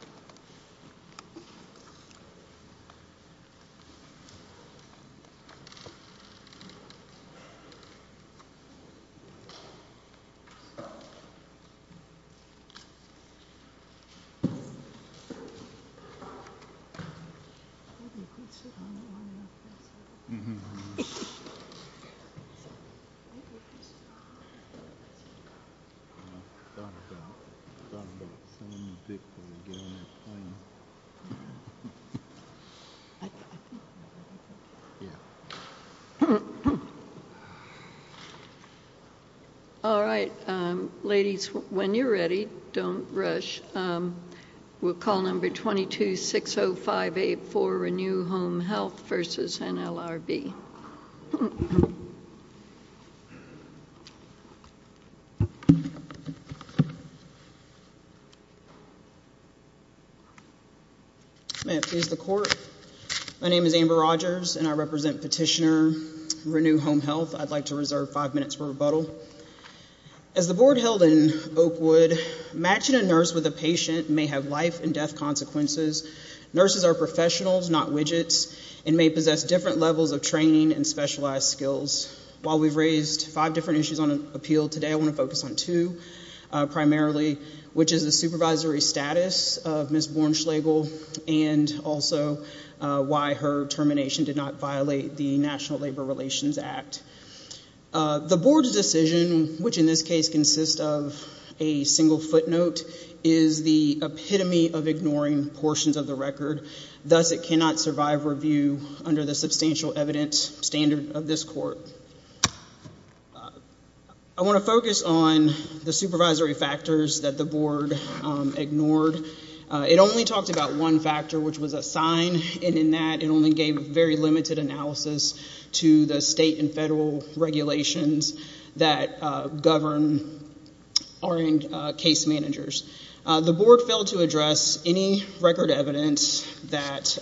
November 3, 2011 All right, ladies, when you're ready, don't rush. We'll call number 2260584, Renew Home Health versus NLRB. May it please the court. My name is Amber Rogers, and I represent petitioner Renew Home Health. I'd like to reserve five minutes for rebuttal. As the board held in Oakwood, matching a nurse with a patient may have life and death consequences. Nurses are professionals, not widgets, and may possess different levels of training and specialized skills. While we've raised five different issues on appeal today, I want to focus on two primarily, which is the supervisory status of Ms. Bornschlegel and also why her termination did not violate the National Labor Relations Act. The board's decision, which in this case consists of a single footnote, is the epitome of ignoring portions of the record. Thus, it cannot survive review under the substantial evidence standard of this court. So I want to focus on the supervisory factors that the board ignored. It only talked about one factor, which was a sign, and in that it only gave very limited analysis to the state and federal regulations that govern RN case managers. The board failed to address any record evidence that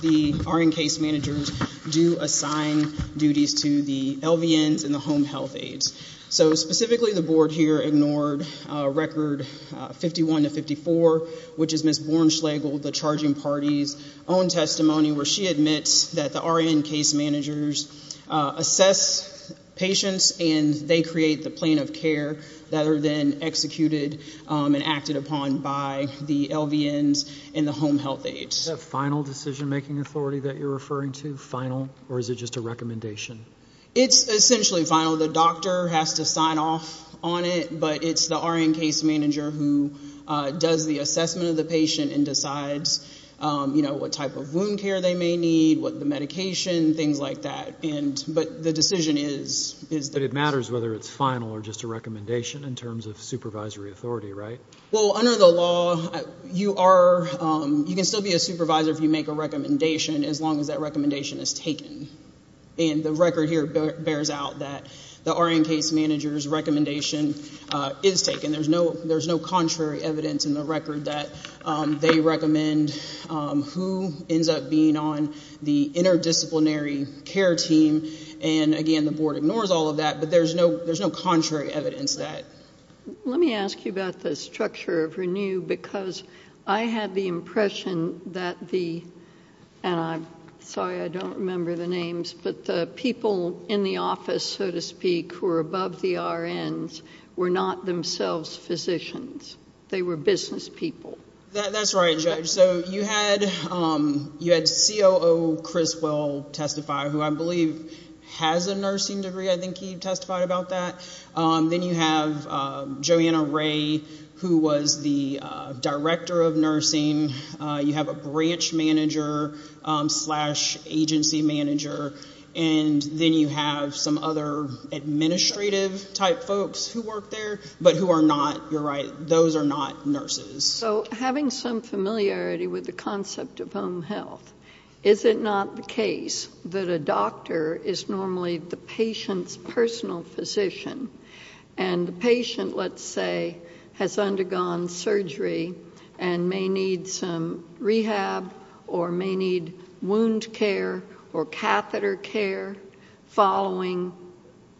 the RN case managers do assign duties to the LVNs and the home health aides. So specifically, the board here ignored record 51 to 54, which is Ms. Bornschlegel, the charging party's own testimony where she admits that the RN case managers assess patients and they create the plan of care that are then executed and acted upon by the LVNs and the home health aides. Is that final decision-making authority that you're referring to, final, or is it just a recommendation? It's essentially final. The doctor has to sign off on it, but it's the RN case manager who does the assessment of the patient and decides what type of wound care they may need, what the medication, things like that. But the decision is that it's final. But it matters whether it's final or just a recommendation in terms of supervisory authority, right? Well, under the law, you can still be a supervisor if you make a recommendation as long as that recommendation is taken. And the record here bears out that the RN case manager's recommendation is taken. There's no contrary evidence in the record that they recommend who ends up being on the interdisciplinary care team. And, again, the board ignores all of that, but there's no contrary evidence to that. Let me ask you about the structure of RENEW because I had the impression that the – and I'm sorry I don't remember the names – that the people in the office, so to speak, who are above the RNs were not themselves physicians. They were business people. That's right, Judge. So you had COO Chris Well testify, who I believe has a nursing degree. I think he testified about that. Then you have Joanna Ray, who was the director of nursing. You have a branch manager slash agency manager, and then you have some other administrative-type folks who work there, but who are not, you're right, those are not nurses. So having some familiarity with the concept of home health, is it not the case that a doctor is normally the patient's personal physician, and the patient, let's say, has undergone surgery and may need some rehab or may need wound care or catheter care following –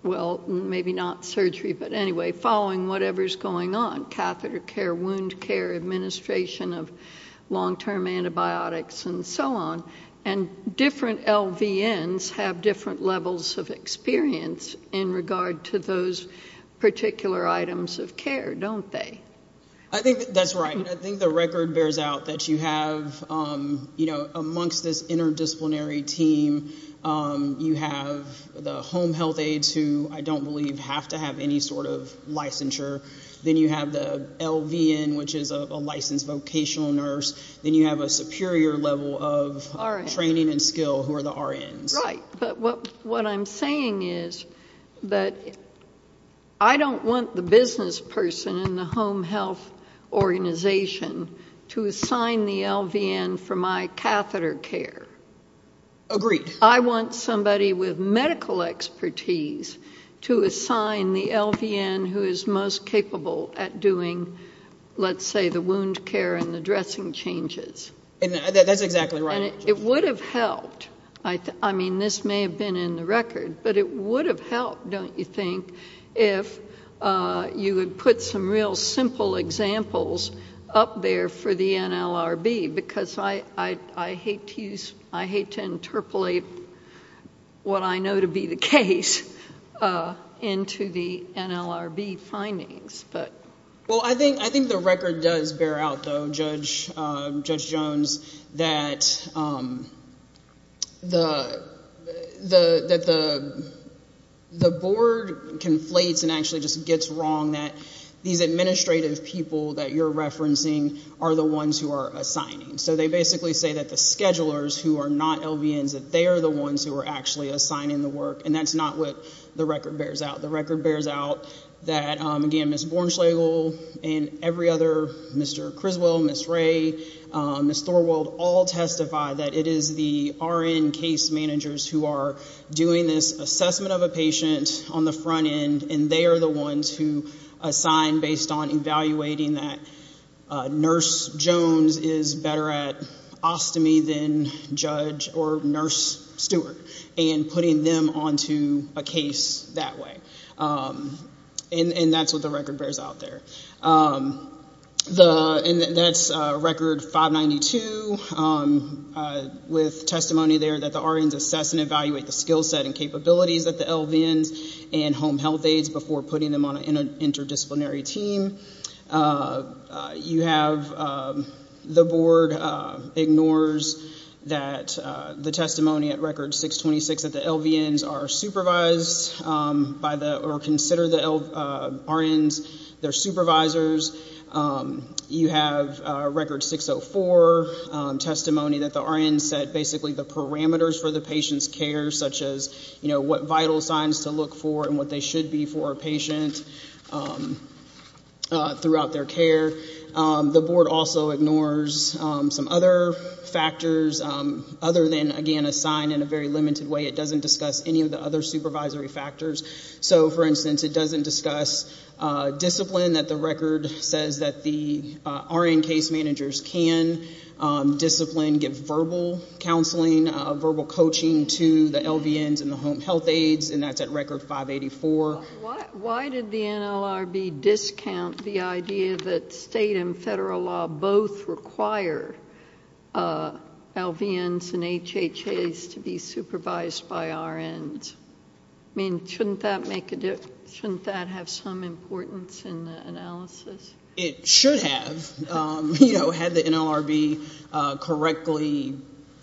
well, maybe not surgery, but anyway – following whatever's going on, catheter care, wound care, administration of long-term antibiotics, and so on. And different LVNs have different levels of experience in regard to those particular items of care, don't they? I think that's right. I think the record bears out that you have, you know, amongst this interdisciplinary team, you have the home health aides who I don't believe have to have any sort of licensure. Then you have the LVN, which is a licensed vocational nurse. Then you have a superior level of training and skill who are the RNs. Right. But what I'm saying is that I don't want the business person in the home health organization to assign the LVN for my catheter care. Agreed. I want somebody with medical expertise to assign the LVN who is most capable at doing, let's say, the wound care and the dressing changes. That's exactly right. And it would have helped. I mean, this may have been in the record, but it would have helped, don't you think, if you had put some real simple examples up there for the NLRB? Because I hate to interpolate what I know to be the case into the NLRB findings. Well, I think the record does bear out, though, Judge Jones, that the board conflates and actually just gets wrong that these administrative people that you're referencing are the ones who are assigning. So they basically say that the schedulers who are not LVNs, that they are the ones who are actually assigning the work, and that's not what the record bears out. The record bears out that, again, Ms. Bornschlegel and every other, Mr. Criswell, Ms. Ray, Ms. Thorwald, all testify that it is the RN case managers who are doing this assessment of a patient on the front end, and they are the ones who assign based on evaluating that Nurse Jones is better at ostomy than Judge or Nurse Stewart and putting them onto a case that way. And that's what the record bears out there. And that's record 592 with testimony there that the RNs assess and evaluate the skill set and capabilities that the LVNs and home health aides before putting them on an interdisciplinary team. You have the board ignores that the testimony at record 626 that the LVNs are supervised by the, or consider the RNs their supervisors. You have record 604 testimony that the RNs set basically the parameters for the patient's care, such as what vital signs to look for and what they should be for a patient throughout their care. The board also ignores some other factors other than, again, assigned in a very limited way. It doesn't discuss any of the other supervisory factors. So, for instance, it doesn't discuss discipline, that the record says that the RN case managers can discipline, can give verbal counseling, verbal coaching to the LVNs and the home health aides, and that's at record 584. Why did the NLRB discount the idea that state and federal law both require LVNs and HHAs to be supervised by RNs? I mean, shouldn't that have some importance in the analysis? It should have. You know, had the NLRB correctly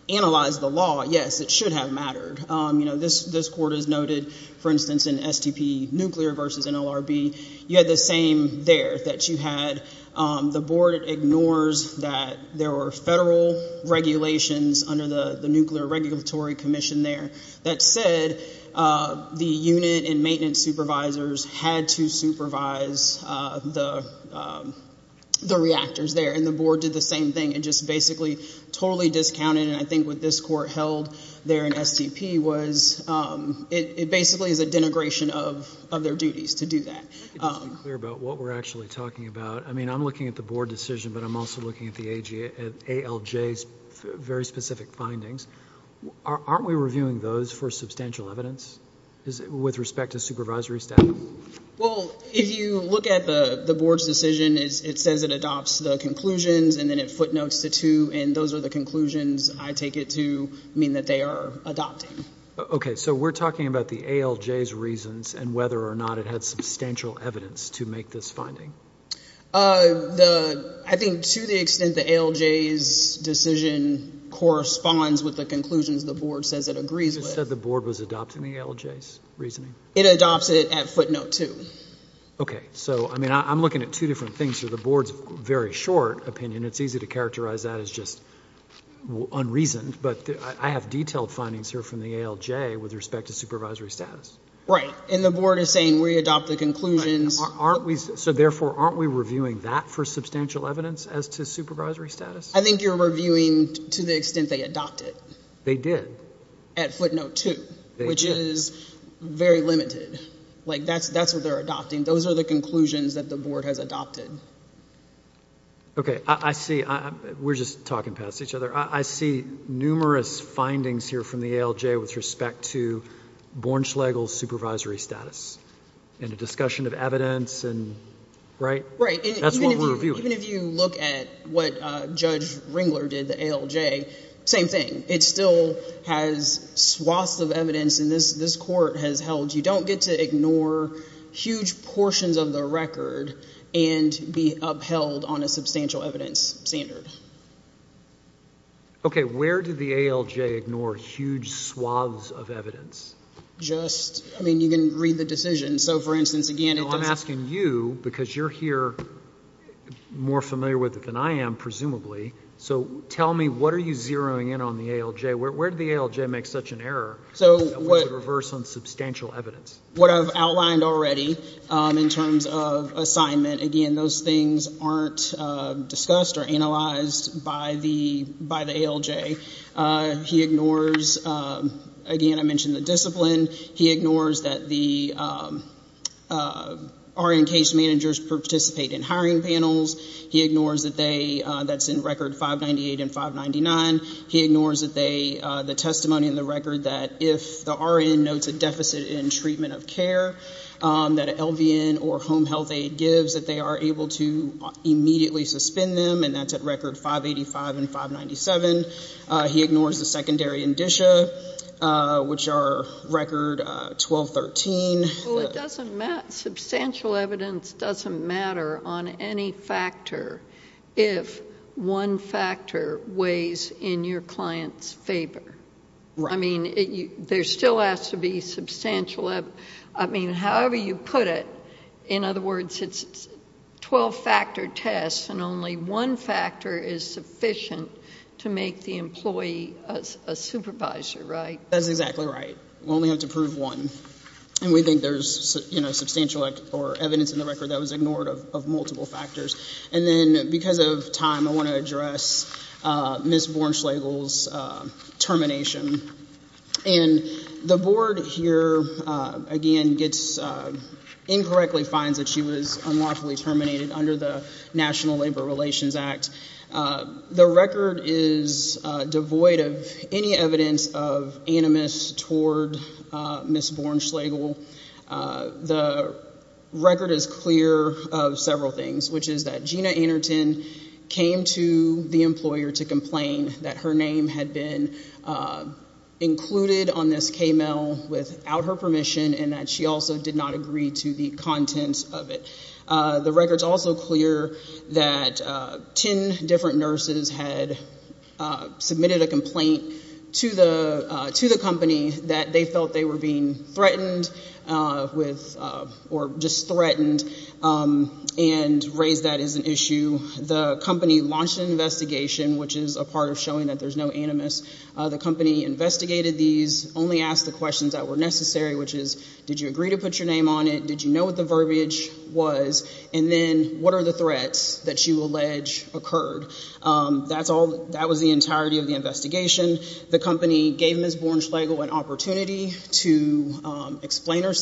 analyzed the law, yes, it should have mattered. You know, this court has noted, for instance, in STP nuclear versus NLRB, you had the same there, that you had the board ignores that there were federal regulations under the Nuclear Regulatory Commission there that said the unit and maintenance supervisors had to supervise the reactors there, and the board did the same thing and just basically totally discounted it. And I think what this court held there in STP was it basically is a denigration of their duties to do that. Let me just be clear about what we're actually talking about. I mean, I'm looking at the board decision, but I'm also looking at the ALJ's very specific findings. Aren't we reviewing those for substantial evidence with respect to supervisory staff? Well, if you look at the board's decision, it says it adopts the conclusions and then it footnotes the two, and those are the conclusions I take it to mean that they are adopting. Okay. So we're talking about the ALJ's reasons and whether or not it had substantial evidence to make this finding. I think to the extent the ALJ's decision corresponds with the conclusions the board says it agrees with. You said the board was adopting the ALJ's reasoning? It adopts it at footnote two. Okay. So, I mean, I'm looking at two different things here. The board's very short opinion. It's easy to characterize that as just unreasoned, but I have detailed findings here from the ALJ with respect to supervisory status. Right, and the board is saying we adopt the conclusions. So, therefore, aren't we reviewing that for substantial evidence as to supervisory status? I think you're reviewing to the extent they adopted. They did. At footnote two, which is very limited. Like, that's what they're adopting. Those are the conclusions that the board has adopted. Okay. I see. We're just talking past each other. I see numerous findings here from the ALJ with respect to Bornschlegel's supervisory status and a discussion of evidence, and, right? Right. That's what we're reviewing. Even if you look at what Judge Ringler did, the ALJ, same thing. It still has swaths of evidence, and this court has held you don't get to ignore huge portions of the record and be upheld on a substantial evidence standard. Okay. Where did the ALJ ignore huge swaths of evidence? Just, I mean, you can read the decision. So, for instance, again, it doesn't. No, I'm asking you because you're here more familiar with it than I am, presumably. So, tell me, what are you zeroing in on the ALJ? Where did the ALJ make such an error that was the reverse on substantial evidence? What I've outlined already in terms of assignment, again, those things aren't discussed or analyzed by the ALJ. He ignores, again, I mentioned the discipline. He ignores that the RN case managers participate in hiring panels. He ignores that they, that's in Record 598 and 599. He ignores that they, the testimony in the record that if the RN notes a deficit in treatment of care that an LVN or home health aide gives that they are able to immediately suspend them, and that's at Record 585 and 597. He ignores the secondary indicia, which are Record 1213. Well, it doesn't matter. Substantial evidence doesn't matter on any factor if one factor weighs in your client's favor. Right. I mean, there still has to be substantial, I mean, however you put it. In other words, it's 12-factor tests, and only one factor is sufficient to make the employee a supervisor, right? That's exactly right. We only have to prove one, and we think there's, you know, substantial evidence in the record that was ignored of multiple factors. And then because of time, I want to address Ms. Bournschlagel's termination. And the board here, again, gets, incorrectly finds that she was unlawfully terminated under the National Labor Relations Act. The record is devoid of any evidence of animus toward Ms. Bournschlagel. The record is clear of several things, which is that Gina Anerton came to the employer to complain that her name had been included on this K-mail without her permission, and that she also did not agree to the contents of it. The record's also clear that 10 different nurses had submitted a complaint to the company that they felt they were being threatened with, or just threatened, and raised that as an issue. The company launched an investigation, which is a part of showing that there's no animus. The company investigated these, only asked the questions that were necessary, which is, Did you agree to put your name on it? Did you know what the verbiage was? And then, what are the threats that you allege occurred? That was the entirety of the investigation. The company gave Ms. Bournschlagel an opportunity to explain herself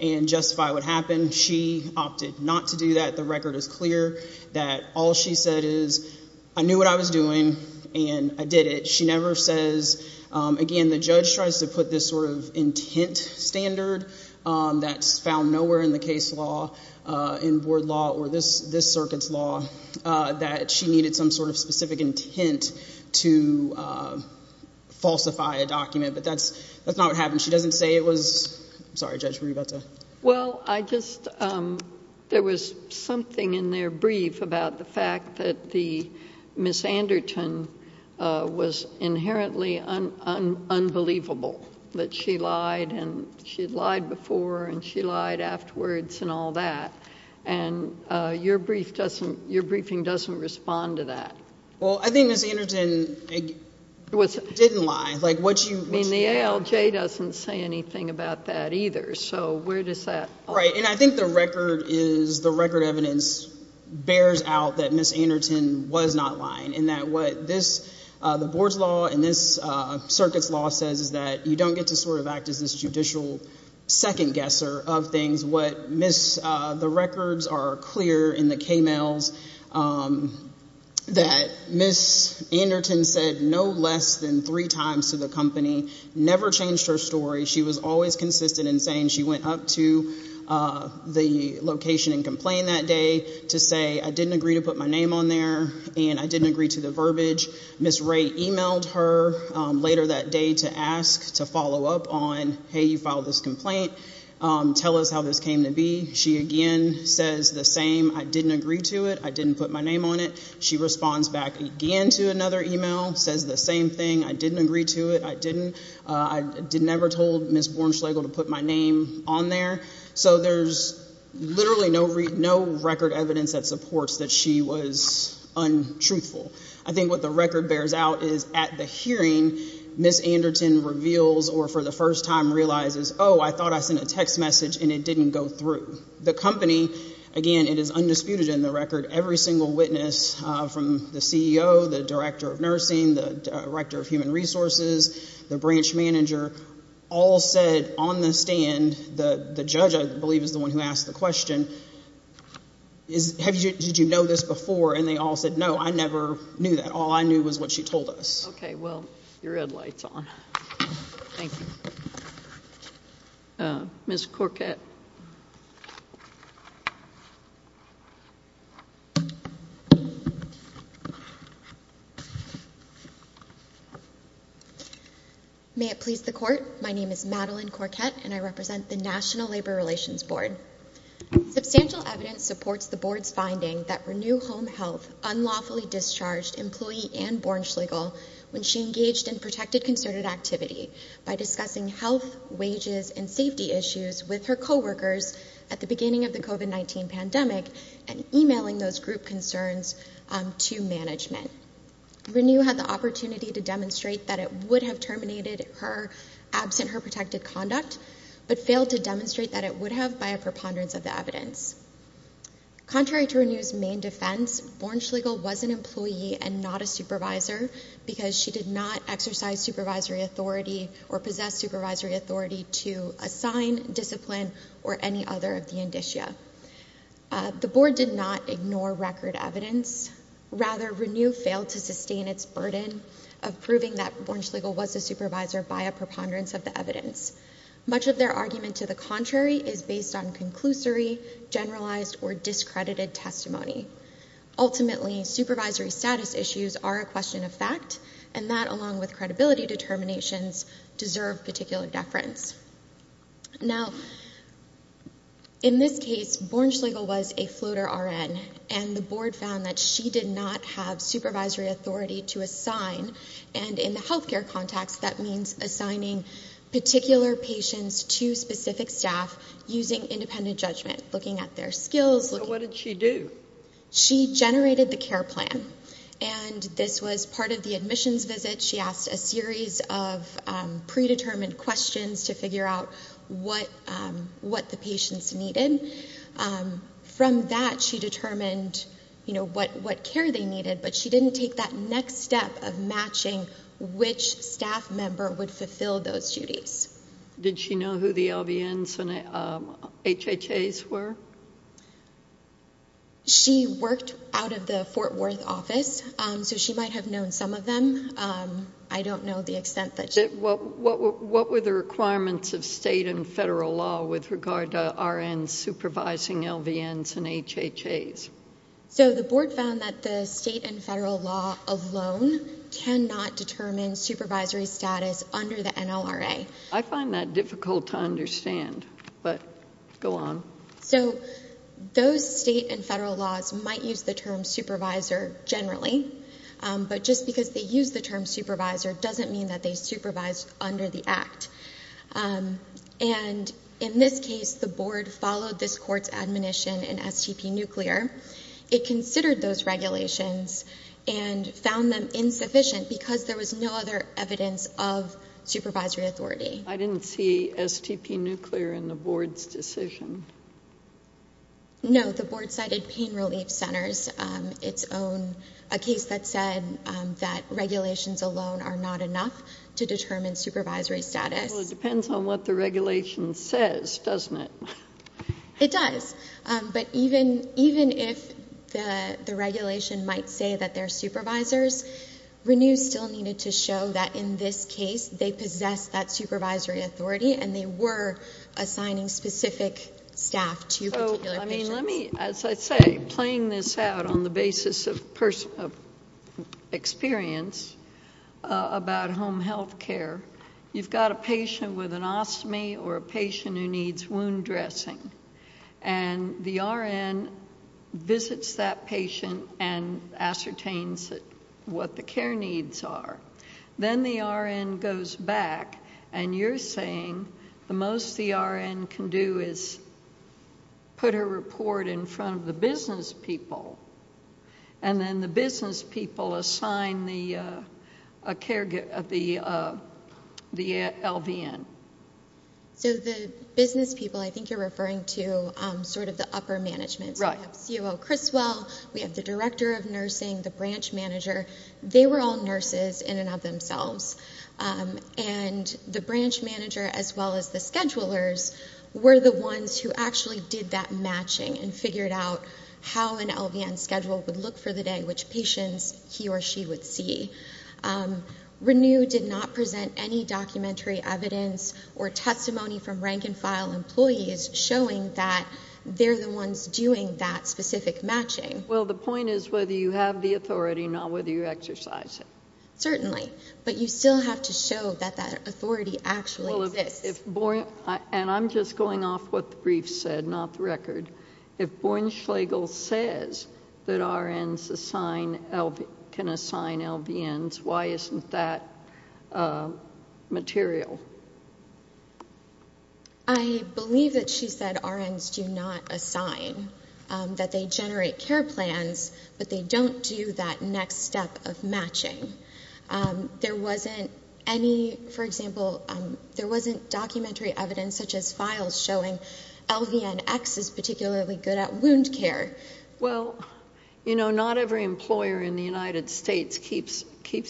and justify what happened. She opted not to do that. The record is clear that all she said is, I knew what I was doing, and I did it. She never says, again, the judge tries to put this sort of intent standard that's found nowhere in the case law, in board law, or this circuit's law, that she needed some sort of specific intent to falsify a document. But that's not what happened. She doesn't say it was—I'm sorry, Judge, were you about to— Well, I just—there was something in their brief about the fact that the— Ms. Anderton was inherently unbelievable, that she lied, and she'd lied before, and she lied afterwards, and all that. And your briefing doesn't respond to that. Well, I think Ms. Anderton didn't lie. I mean, the ALJ doesn't say anything about that either. So where does that— Right. And I think the record is—the record evidence bears out that Ms. Anderton was not lying and that what this—the board's law and this circuit's law says is that you don't get to sort of act as this judicial second-guesser of things. What Ms.—the records are clear in the K-mails that Ms. Anderton said no less than three times to the company, never changed her story. She was always consistent in saying she went up to the location and complained that day to say, I didn't agree to put my name on there, and I didn't agree to the verbiage. Ms. Wray emailed her later that day to ask to follow up on, hey, you filed this complaint, tell us how this came to be. She again says the same, I didn't agree to it, I didn't put my name on it. She responds back again to another email, says the same thing, I didn't agree to it, I didn't. I never told Ms. Bornschlegel to put my name on there. So there's literally no record evidence that supports that she was untruthful. I think what the record bears out is at the hearing, Ms. Anderton reveals or for the first time realizes, oh, I thought I sent a text message and it didn't go through. The company, again, it is undisputed in the record, every single witness from the CEO, the director of nursing, the director of human resources, the branch manager, all said on the stand, the judge I believe is the one who asked the question, did you know this before? And they all said, no, I never knew that. All I knew was what she told us. Okay. Well, your red light's on. Thank you. Ms. Corquette. May it please the court, my name is Madeline Corquette and I represent the National Labor Relations Board. Substantial evidence supports the board's finding that Renew Home Health unlawfully discharged employee and Bornschlegel when she engaged in protected concerted activity by discussing health, wages, and safety issues with her coworkers at the beginning of the COVID-19 pandemic and emailing those group concerns to management. Renew had the opportunity to demonstrate that it would have terminated her absent her protected conduct, but failed to demonstrate that it would have by a preponderance of the evidence. Contrary to Renew's main defense, Bornschlegel was an employee and not a supervisor because she did not exercise supervisory authority or possess supervisory authority to assign, discipline, or any other of the indicia. The board did not ignore record evidence. Rather, Renew failed to sustain its burden of proving that Bornschlegel was a supervisor by a preponderance of the evidence. Much of their argument to the contrary is based on conclusory, generalized, or discredited testimony. Ultimately, supervisory status issues are a question of fact, and that along with credibility determinations deserve particular deference. Now, in this case, Bornschlegel was a floater RN, and the board found that she did not have supervisory authority to assign, and in the health care context, that means assigning particular patients to specific staff using independent judgment, looking at their skills. So what did she do? She generated the care plan, and this was part of the admissions visit. She asked a series of predetermined questions to figure out what the patients needed. From that, she determined, you know, what care they needed, but she didn't take that next step of matching which staff member would fulfill those duties. Did she know who the LVNs and HHAs were? She worked out of the Fort Worth office, so she might have known some of them. I don't know the extent that she did. What were the requirements of state and federal law with regard to RNs supervising LVNs and HHAs? So the board found that the state and federal law alone cannot determine supervisory status under the NLRA. I find that difficult to understand, but go on. So those state and federal laws might use the term supervisor generally, but just because they use the term supervisor doesn't mean that they supervise under the Act. And in this case, the board followed this court's admonition in STP Nuclear. It considered those regulations and found them insufficient because there was no other evidence of supervisory authority. I didn't see STP Nuclear in the board's decision. No, the board cited Pain Relief Centers, a case that said that regulations alone are not enough to determine supervisory status. Well, it depends on what the regulation says, doesn't it? It does. But even if the regulation might say that they're supervisors, Renews still needed to show that in this case they possessed that supervisory authority and they were assigning specific staff to particular patients. As I say, playing this out on the basis of experience about home health care, you've got a patient with an ostomy or a patient who needs wound dressing, and the RN visits that patient and ascertains what the care needs are. Then the RN goes back and you're saying the most the RN can do is put a report in front of the business people and then the business people assign the LVN. So the business people, I think you're referring to sort of the upper management. Right. We have COO Criswell. We have the director of nursing, the branch manager. They were all nurses in and of themselves, and the branch manager as well as the schedulers were the ones who actually did that matching and figured out how an LVN schedule would look for the day which patients he or she would see. Renew did not present any documentary evidence or testimony from rank-and-file employees showing that they're the ones doing that specific matching. Well, the point is whether you have the authority, not whether you exercise it. Certainly. But you still have to show that that authority actually exists. And I'm just going off what the brief said, not the record. If Bournschlagel says that RNs can assign LVNs, why isn't that material? I believe that she said RNs do not assign, that they generate care plans, but they don't do that next step of matching. There wasn't any, for example, there wasn't documentary evidence such as files showing LVNX is particularly good at wound care. Well, you know, not every employer in the United States keeps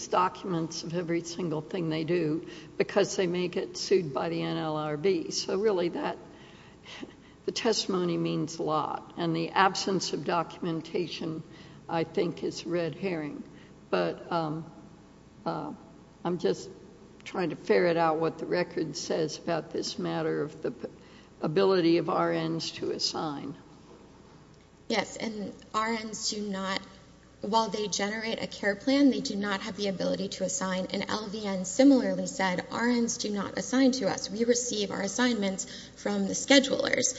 documents of every single thing they do because they may get sued by the NLRB. So really the testimony means a lot. And the absence of documentation, I think, is red herring. But I'm just trying to ferret out what the record says about this matter of the ability of RNs to assign. Yes, and RNs do not, while they generate a care plan, they do not have the ability to assign an LVN. And I similarly said RNs do not assign to us. We receive our assignments from the schedulers.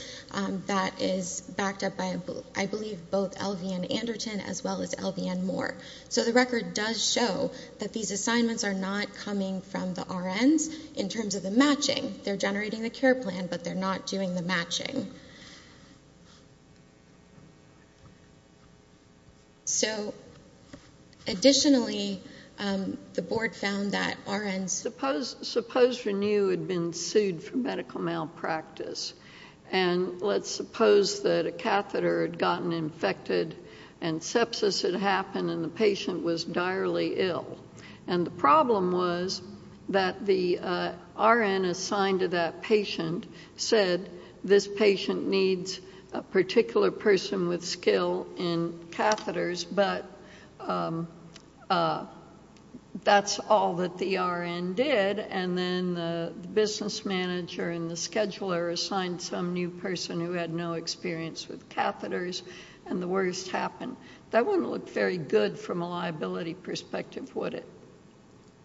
That is backed up by, I believe, both LVN Anderton as well as LVN Moore. So the record does show that these assignments are not coming from the RNs in terms of the matching. They're generating the care plan, but they're not doing the matching. So, additionally, the board found that RNs Suppose Renu had been sued for medical malpractice. And let's suppose that a catheter had gotten infected and sepsis had happened and the patient was direly ill. And the problem was that the RN assigned to that patient said, this patient needs a particular person with skill in catheters, but that's all that the RN did. And then the business manager and the scheduler assigned some new person who had no experience with catheters and the worst happened. That wouldn't look very good from a liability perspective, would it?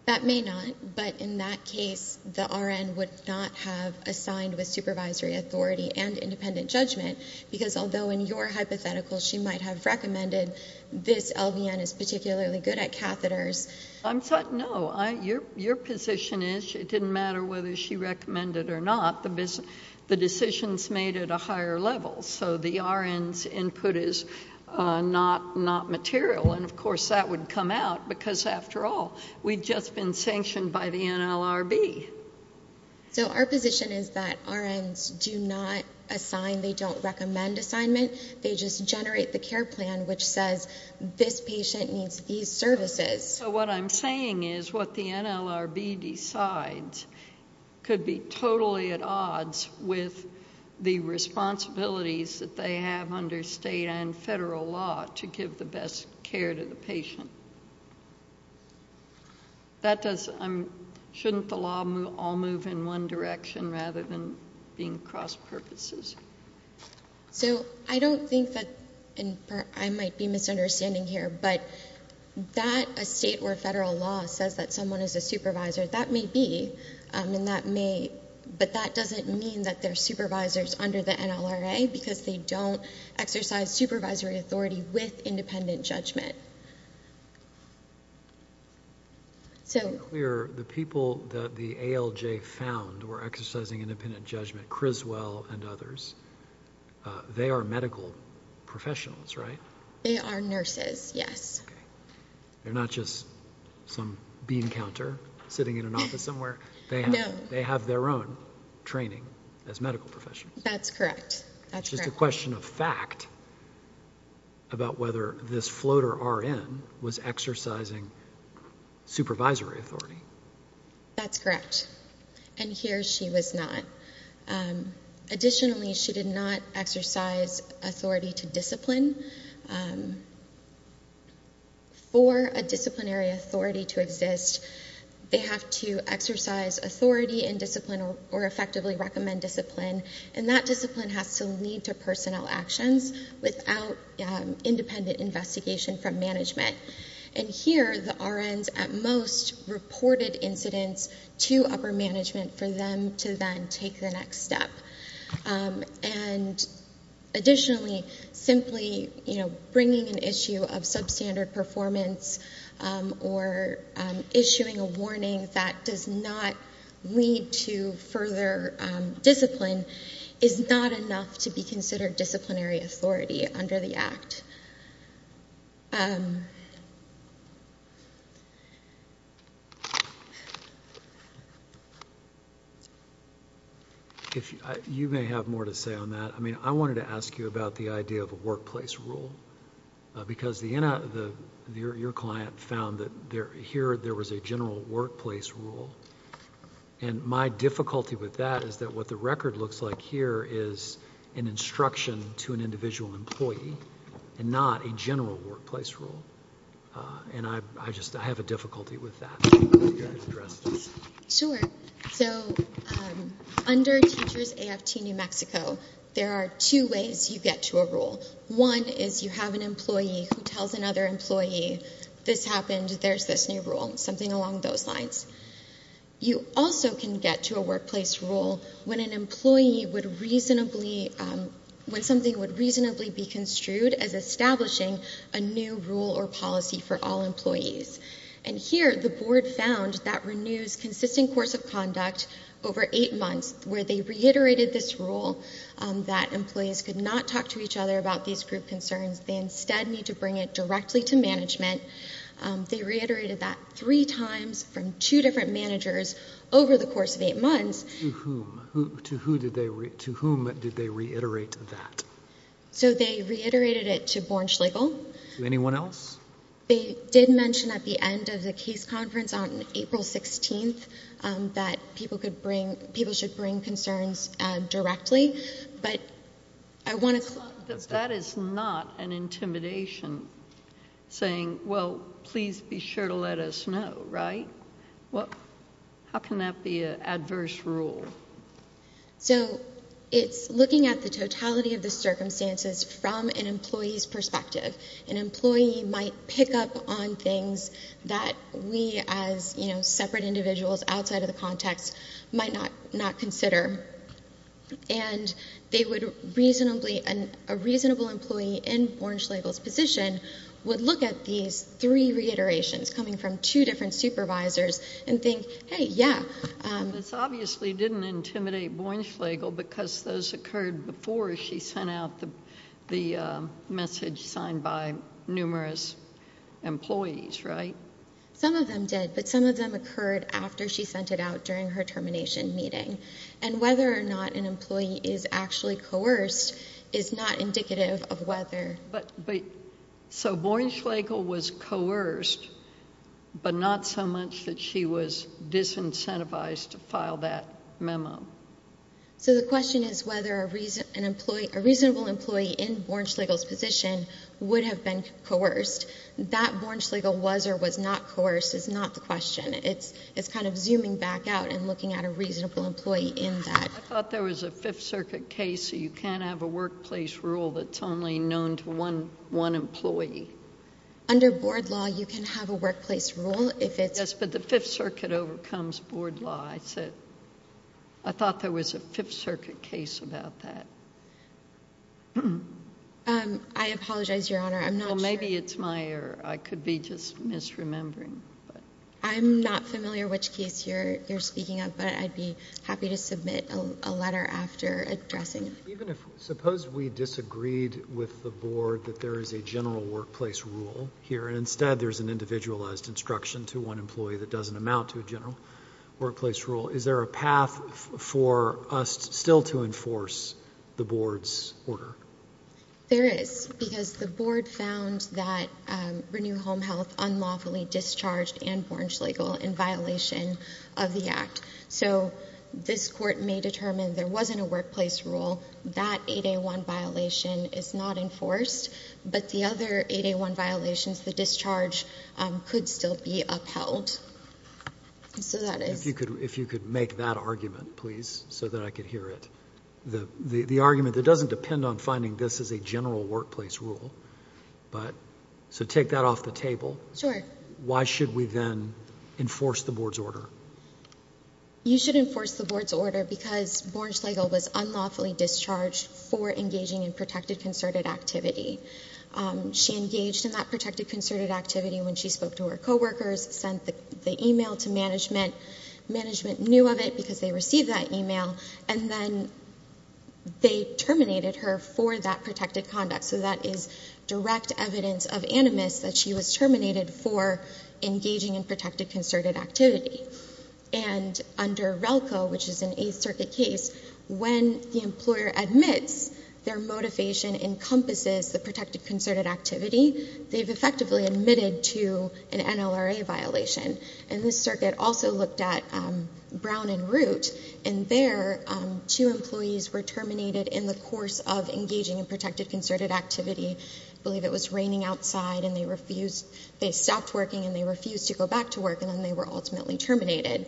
That may not. But in that case, the RN would not have assigned with supervisory authority and independent judgment because although in your hypothetical she might have recommended, this LVN is particularly good at catheters. No. Your position is it didn't matter whether she recommended it or not. The decision's made at a higher level. So the RN's input is not material. And, of course, that would come out because, after all, we've just been sanctioned by the NLRB. So our position is that RNs do not assign. They don't recommend assignment. They just generate the care plan which says, this patient needs these services. So what I'm saying is what the NLRB decides could be totally at odds with the responsibilities that they have under state and federal law to give the best care to the patient. Shouldn't the law all move in one direction rather than being cross-purposes? So I don't think that I might be misunderstanding here, but that a state or federal law says that someone is a supervisor, that may be, but that doesn't mean that they're supervisors under the NLRA because they don't exercise supervisory authority with independent judgment. To be clear, the people that the ALJ found were exercising independent judgment, Criswell and others, they are medical professionals, right? They are nurses, yes. They're not just some bean counter sitting in an office somewhere. No. They have their own training as medical professionals. That's correct. It's just a question of fact about whether this floater RN was exercising supervisory authority. That's correct, and here she was not. Additionally, she did not exercise authority to discipline. For a disciplinary authority to exist, they have to exercise authority and discipline or effectively recommend discipline, and that discipline has to lead to personnel actions without independent investigation from management. Here, the RNs at most reported incidents to upper management for them to then take the next step. Additionally, simply bringing an issue of substandard performance or issuing a warning that does not lead to further discipline is not enough to be considered disciplinary authority under the Act. All right. You may have more to say on that. I mean, I wanted to ask you about the idea of a workplace rule because your client found that here there was a general workplace rule, and my difficulty with that is that what the record looks like here is an instruction to an individual employee and not a general workplace rule, and I just have a difficulty with that. Sure. So under Teachers AFT New Mexico, there are two ways you get to a rule. One is you have an employee who tells another employee, this happened, there's this new rule, something along those lines. You also can get to a workplace rule when something would reasonably be construed as establishing a new rule or policy for all employees, and here the board found that renews consistent course of conduct over eight months where they reiterated this rule that employees could not talk to each other about these group concerns. They instead need to bring it directly to management. They reiterated that three times from two different managers over the course of eight months. To whom? To whom did they reiterate that? So they reiterated it to Borch Legal. To anyone else? They did mention at the end of the case conference on April 16th that people should bring concerns directly, That is not an intimidation saying, well, please be sure to let us know, right? How can that be an adverse rule? So it's looking at the totality of the circumstances from an employee's perspective. An employee might pick up on things that we as separate individuals outside of the context might not consider, and a reasonable employee in Borch Legal's position would look at these three reiterations coming from two different supervisors and think, hey, yeah. This obviously didn't intimidate Borch Legal because those occurred before she sent out the message signed by numerous employees, right? Some of them did, but some of them occurred after she sent it out during her termination meeting. And whether or not an employee is actually coerced is not indicative of whether. So Borch Legal was coerced, but not so much that she was disincentivized to file that memo. So the question is whether a reasonable employee in Borch Legal's position would have been coerced. That Borch Legal was or was not coerced is not the question. It's kind of zooming back out and looking at a reasonable employee in that. I thought there was a Fifth Circuit case. You can't have a workplace rule that's only known to one employee. Under board law, you can have a workplace rule if it's... Yes, but the Fifth Circuit overcomes board law. I thought there was a Fifth Circuit case about that. I apologize, Your Honor. I'm not sure... Well, maybe it's my error. I could be just misremembering. I'm not familiar which case you're speaking of, but I'd be happy to submit a letter after addressing it. Even if... suppose we disagreed with the board that there is a general workplace rule here, and instead there's an individualized instruction to one employee that doesn't amount to a general workplace rule. Is there a path for us still to enforce the board's order? There is, because the board found that Renew Home Health unlawfully discharged Ann Borch Legal in violation of the act. So this court may determine there wasn't a workplace rule. That 8A1 violation is not enforced, but the other 8A1 violations, the discharge could still be upheld. So that is... If you could make that argument, please, so that I could hear it. The argument that doesn't depend on finding this as a general workplace rule, but... So take that off the table. Sure. Why should we then enforce the board's order? You should enforce the board's order because Borch Legal was unlawfully discharged for engaging in protected concerted activity. She engaged in that protected concerted activity when she spoke to her coworkers, sent the email to management. Management knew of it because they received that email, and then they terminated her for that protected conduct. So that is direct evidence of animus that she was terminated for engaging in protected concerted activity. And under RELCO, which is an Eighth Circuit case, when the employer admits their motivation encompasses the protected concerted activity, they've effectively admitted to an NLRA violation. And this circuit also looked at Brown and Root, and there, two employees were terminated in the course of engaging in protected concerted activity. I believe it was raining outside, and they refused... they stopped working, and they refused to go back to work, and then they were ultimately terminated.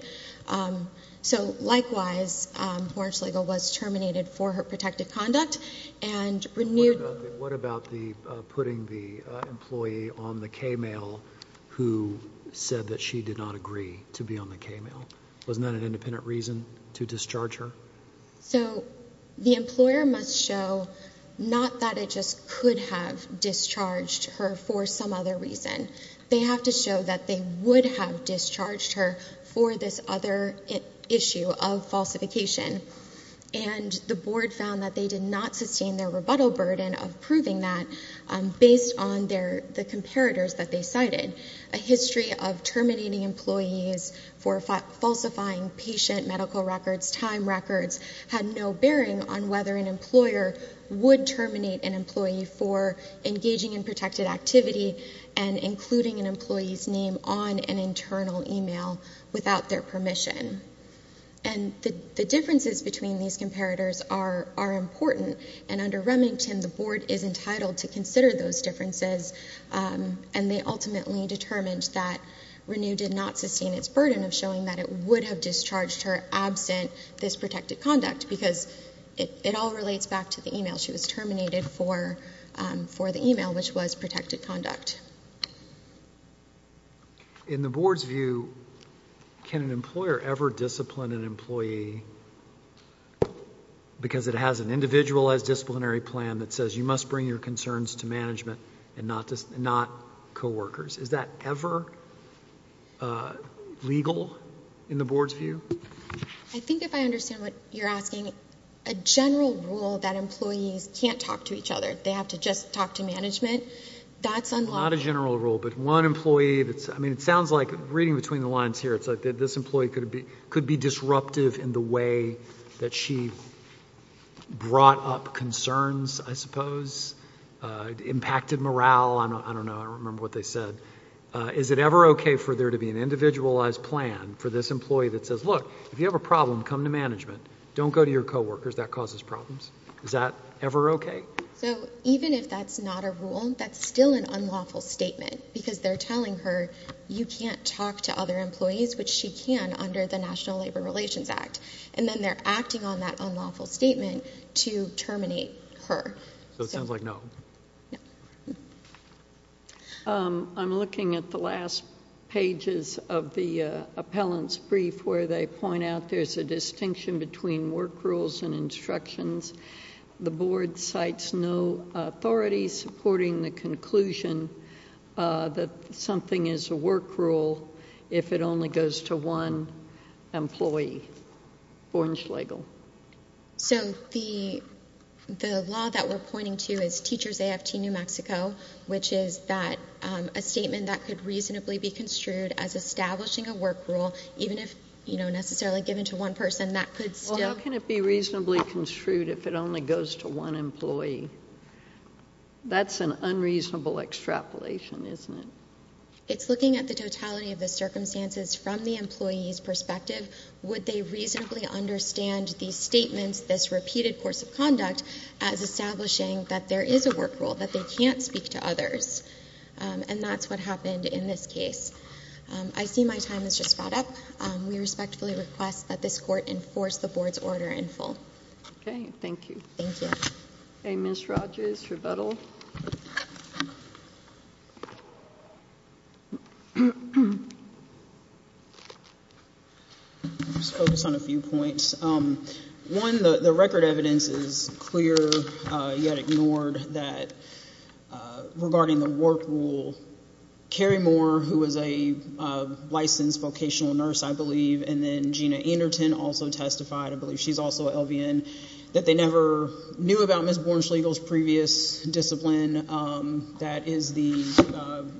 So, likewise, Borch Legal was terminated for her protected conduct and renewed... to be on the K-mail. Wasn't that an independent reason to discharge her? So, the employer must show not that it just could have discharged her for some other reason. They have to show that they would have discharged her for this other issue of falsification. And the board found that they did not sustain their rebuttal burden of proving that based on their... terminating employees for falsifying patient medical records, time records, had no bearing on whether an employer would terminate an employee for engaging in protected activity and including an employee's name on an internal e-mail without their permission. And the differences between these comparators are important. And under Remington, the board is entitled to consider those differences. And they ultimately determined that Renu did not sustain its burden of showing that it would have discharged her absent this protected conduct because it all relates back to the e-mail. She was terminated for the e-mail, which was protected conduct. In the board's view, can an employer ever discipline an employee because it has an individualized disciplinary plan that says you must bring your concerns to management and not coworkers? Is that ever legal in the board's view? I think if I understand what you're asking, a general rule that employees can't talk to each other, they have to just talk to management, that's unlawful. Not a general rule, but one employee that's... I mean, it sounds like, reading between the lines here, it's like this employee could be disruptive in the way that she brought up concerns, I suppose, impacted morale. I don't know. I don't remember what they said. Is it ever okay for there to be an individualized plan for this employee that says, look, if you have a problem, come to management. Don't go to your coworkers. That causes problems. Is that ever okay? So even if that's not a rule, that's still an unlawful statement because they're telling her, you can't talk to other employees, which she can under the National Labor Relations Act, and then they're acting on that unlawful statement to terminate her. So it sounds like no. No. I'm looking at the last pages of the appellant's brief where they point out there's a distinction between work rules and instructions. The board cites no authority supporting the conclusion that something is a work rule if it only goes to one employee. Bornschlegel. So the law that we're pointing to is Teachers AFT New Mexico, which is that a statement that could reasonably be construed as establishing a work rule, even if, you know, necessarily given to one person, that could still... But if it only goes to one employee, that's an unreasonable extrapolation, isn't it? It's looking at the totality of the circumstances from the employee's perspective. Would they reasonably understand these statements, this repeated course of conduct, as establishing that there is a work rule, that they can't speak to others? And that's what happened in this case. I see my time has just run up. Okay, thank you. Ms. Rodgers, rebuttal. I'll just focus on a few points. One, the record evidence is clear, yet ignored, that regarding the work rule, Carrie Moore, who is a licensed vocational nurse, I believe, and then Gina Anderton also testified. I believe she's also a LVN. That they never knew about Ms. Bornschlegel's previous discipline. That is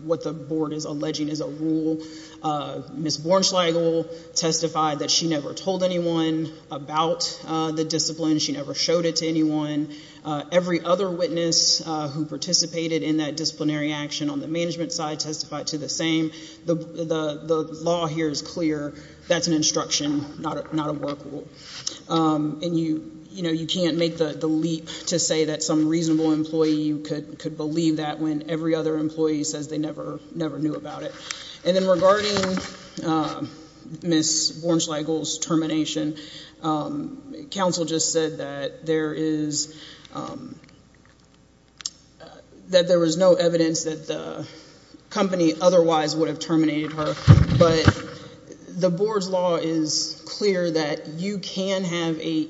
what the board is alleging is a rule. Ms. Bornschlegel testified that she never told anyone about the discipline. She never showed it to anyone. Every other witness who participated in that disciplinary action on the management side testified to the same. The law here is clear. That's an instruction, not a work rule. And, you know, you can't make the leap to say that some reasonable employee could believe that when every other employee says they never knew about it. And then regarding Ms. Bornschlegel's termination, counsel just said that there is no evidence that the company otherwise would have terminated her. But the board's law is clear that you can have a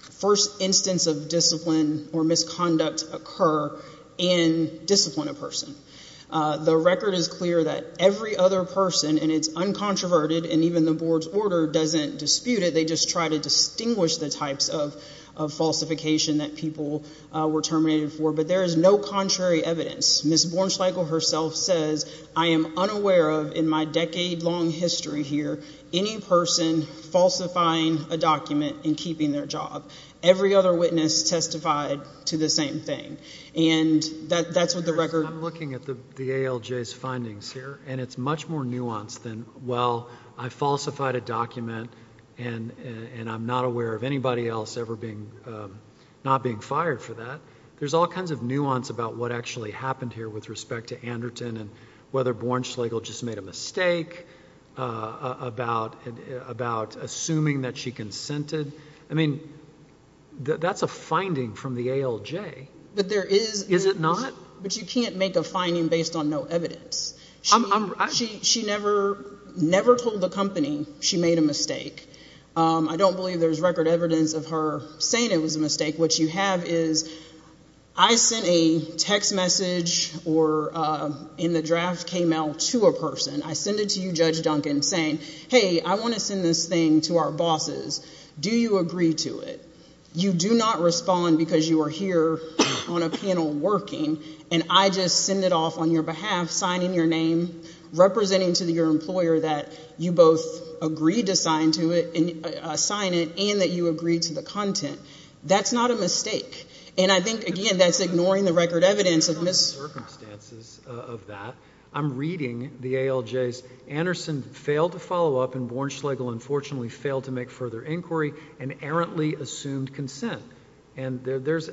first instance of discipline or misconduct occur and discipline a person. The record is clear that every other person, and it's uncontroverted, and even the board's order doesn't dispute it. They just try to distinguish the types of falsification that people were terminated for. But there is no contrary evidence. Ms. Bornschlegel herself says, I am unaware of, in my decade-long history here, any person falsifying a document and keeping their job. Every other witness testified to the same thing. And that's what the record. I'm looking at the ALJ's findings here, and it's much more nuanced than, well, I falsified a document and I'm not aware of anybody else ever not being fired for that. There's all kinds of nuance about what actually happened here with respect to Anderton and whether Bornschlegel just made a mistake about assuming that she consented. I mean, that's a finding from the ALJ. But there is. Is it not? But you can't make a finding based on no evidence. She never told the company she made a mistake. I don't believe there's record evidence of her saying it was a mistake. What you have is I sent a text message or in the draft came out to a person. I sent it to you, Judge Duncan, saying, hey, I want to send this thing to our bosses. Do you agree to it? You do not respond because you are here on a panel working, and I just send it off on your behalf, signing your name, representing to your employer that you both agreed to sign it and that you agreed to the content. That's not a mistake. And I think, again, that's ignoring the record evidence of Ms. It's not the circumstances of that. I'm reading the ALJ's Anderson failed to follow up, and Warren Schlegel unfortunately failed to make further inquiry and errantly assumed consent. And there's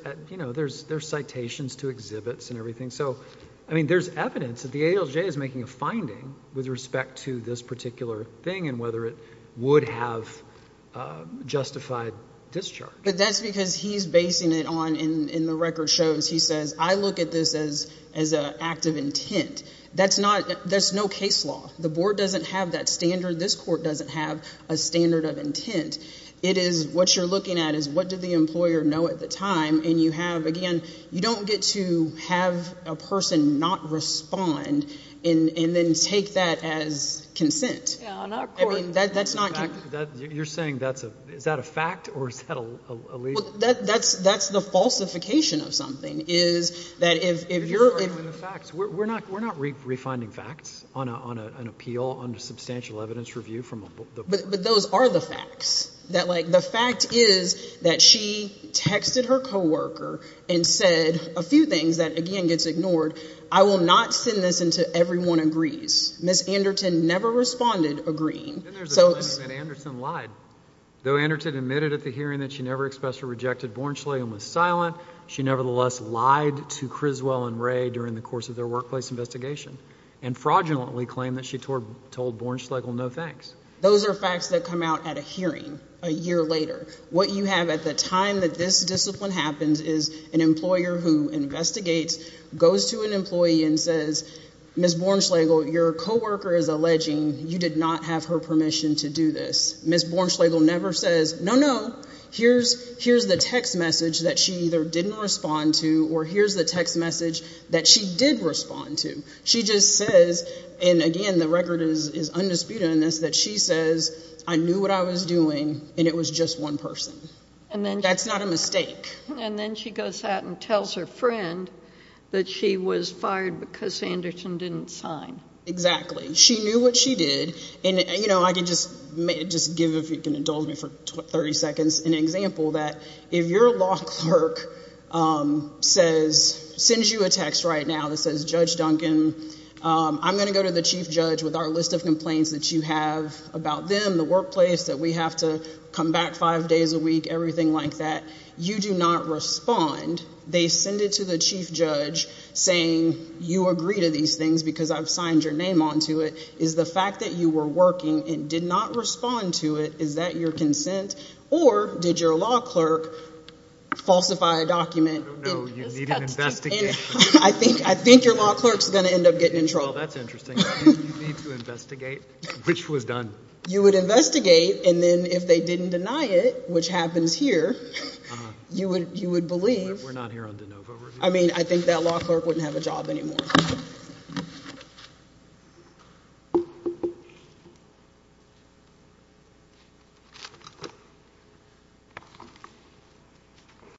citations to exhibits and everything. So, I mean, there's evidence that the ALJ is making a finding with respect to this particular thing and whether it would have justified discharge. But that's because he's basing it on, in the record shows, he says, I look at this as an act of intent. That's not – there's no case law. The board doesn't have that standard. This court doesn't have a standard of intent. It is what you're looking at is what did the employer know at the time. And you have, again, you don't get to have a person not respond and then take that as consent. Yeah, not court. I mean, that's not – You're saying that's a – is that a fact or is that a legal – That's the falsification of something is that if you're – You're just arguing the facts. We're not refinding facts on an appeal, on a substantial evidence review from a – But those are the facts. That, like, the fact is that she texted her co-worker and said a few things that, again, gets ignored. I will not send this until everyone agrees. Ms. Anderton never responded agreeing. Then there's the claim that Anderton lied. Though Anderton admitted at the hearing that she never expressed her rejected Born Schlegel and was silent, she nevertheless lied to Criswell and Wray during the course of their workplace investigation and fraudulently claimed that she told Born Schlegel no thanks. Those are facts that come out at a hearing a year later. What you have at the time that this discipline happens is an employer who investigates, goes to an employee and says, Ms. Born Schlegel, your co-worker is alleging you did not have her permission to do this. Ms. Born Schlegel never says, no, no, here's the text message that she either didn't respond to or here's the text message that she did respond to. She just says, and again the record is undisputed on this, that she says, I knew what I was doing and it was just one person. That's not a mistake. And then she goes out and tells her friend that she was fired because Anderton didn't sign. Exactly. She knew what she did, and I can just give, if you can indulge me for 30 seconds, an example that if your law clerk sends you a text right now that says, Judge Duncan, I'm going to go to the chief judge with our list of complaints that you have about them, the workplace, that we have to come back five days a week, everything like that, you do not respond. They send it to the chief judge saying you agree to these things because I've signed your name onto it. Is the fact that you were working and did not respond to it, is that your consent? Or did your law clerk falsify a document? I don't know. You need an investigation. I think your law clerk is going to end up getting in trouble. Well, that's interesting. You need to investigate which was done. You would investigate, and then if they didn't deny it, which happens here, you would believe. We're not here on de novo. I mean, I think that law clerk wouldn't have a job anymore.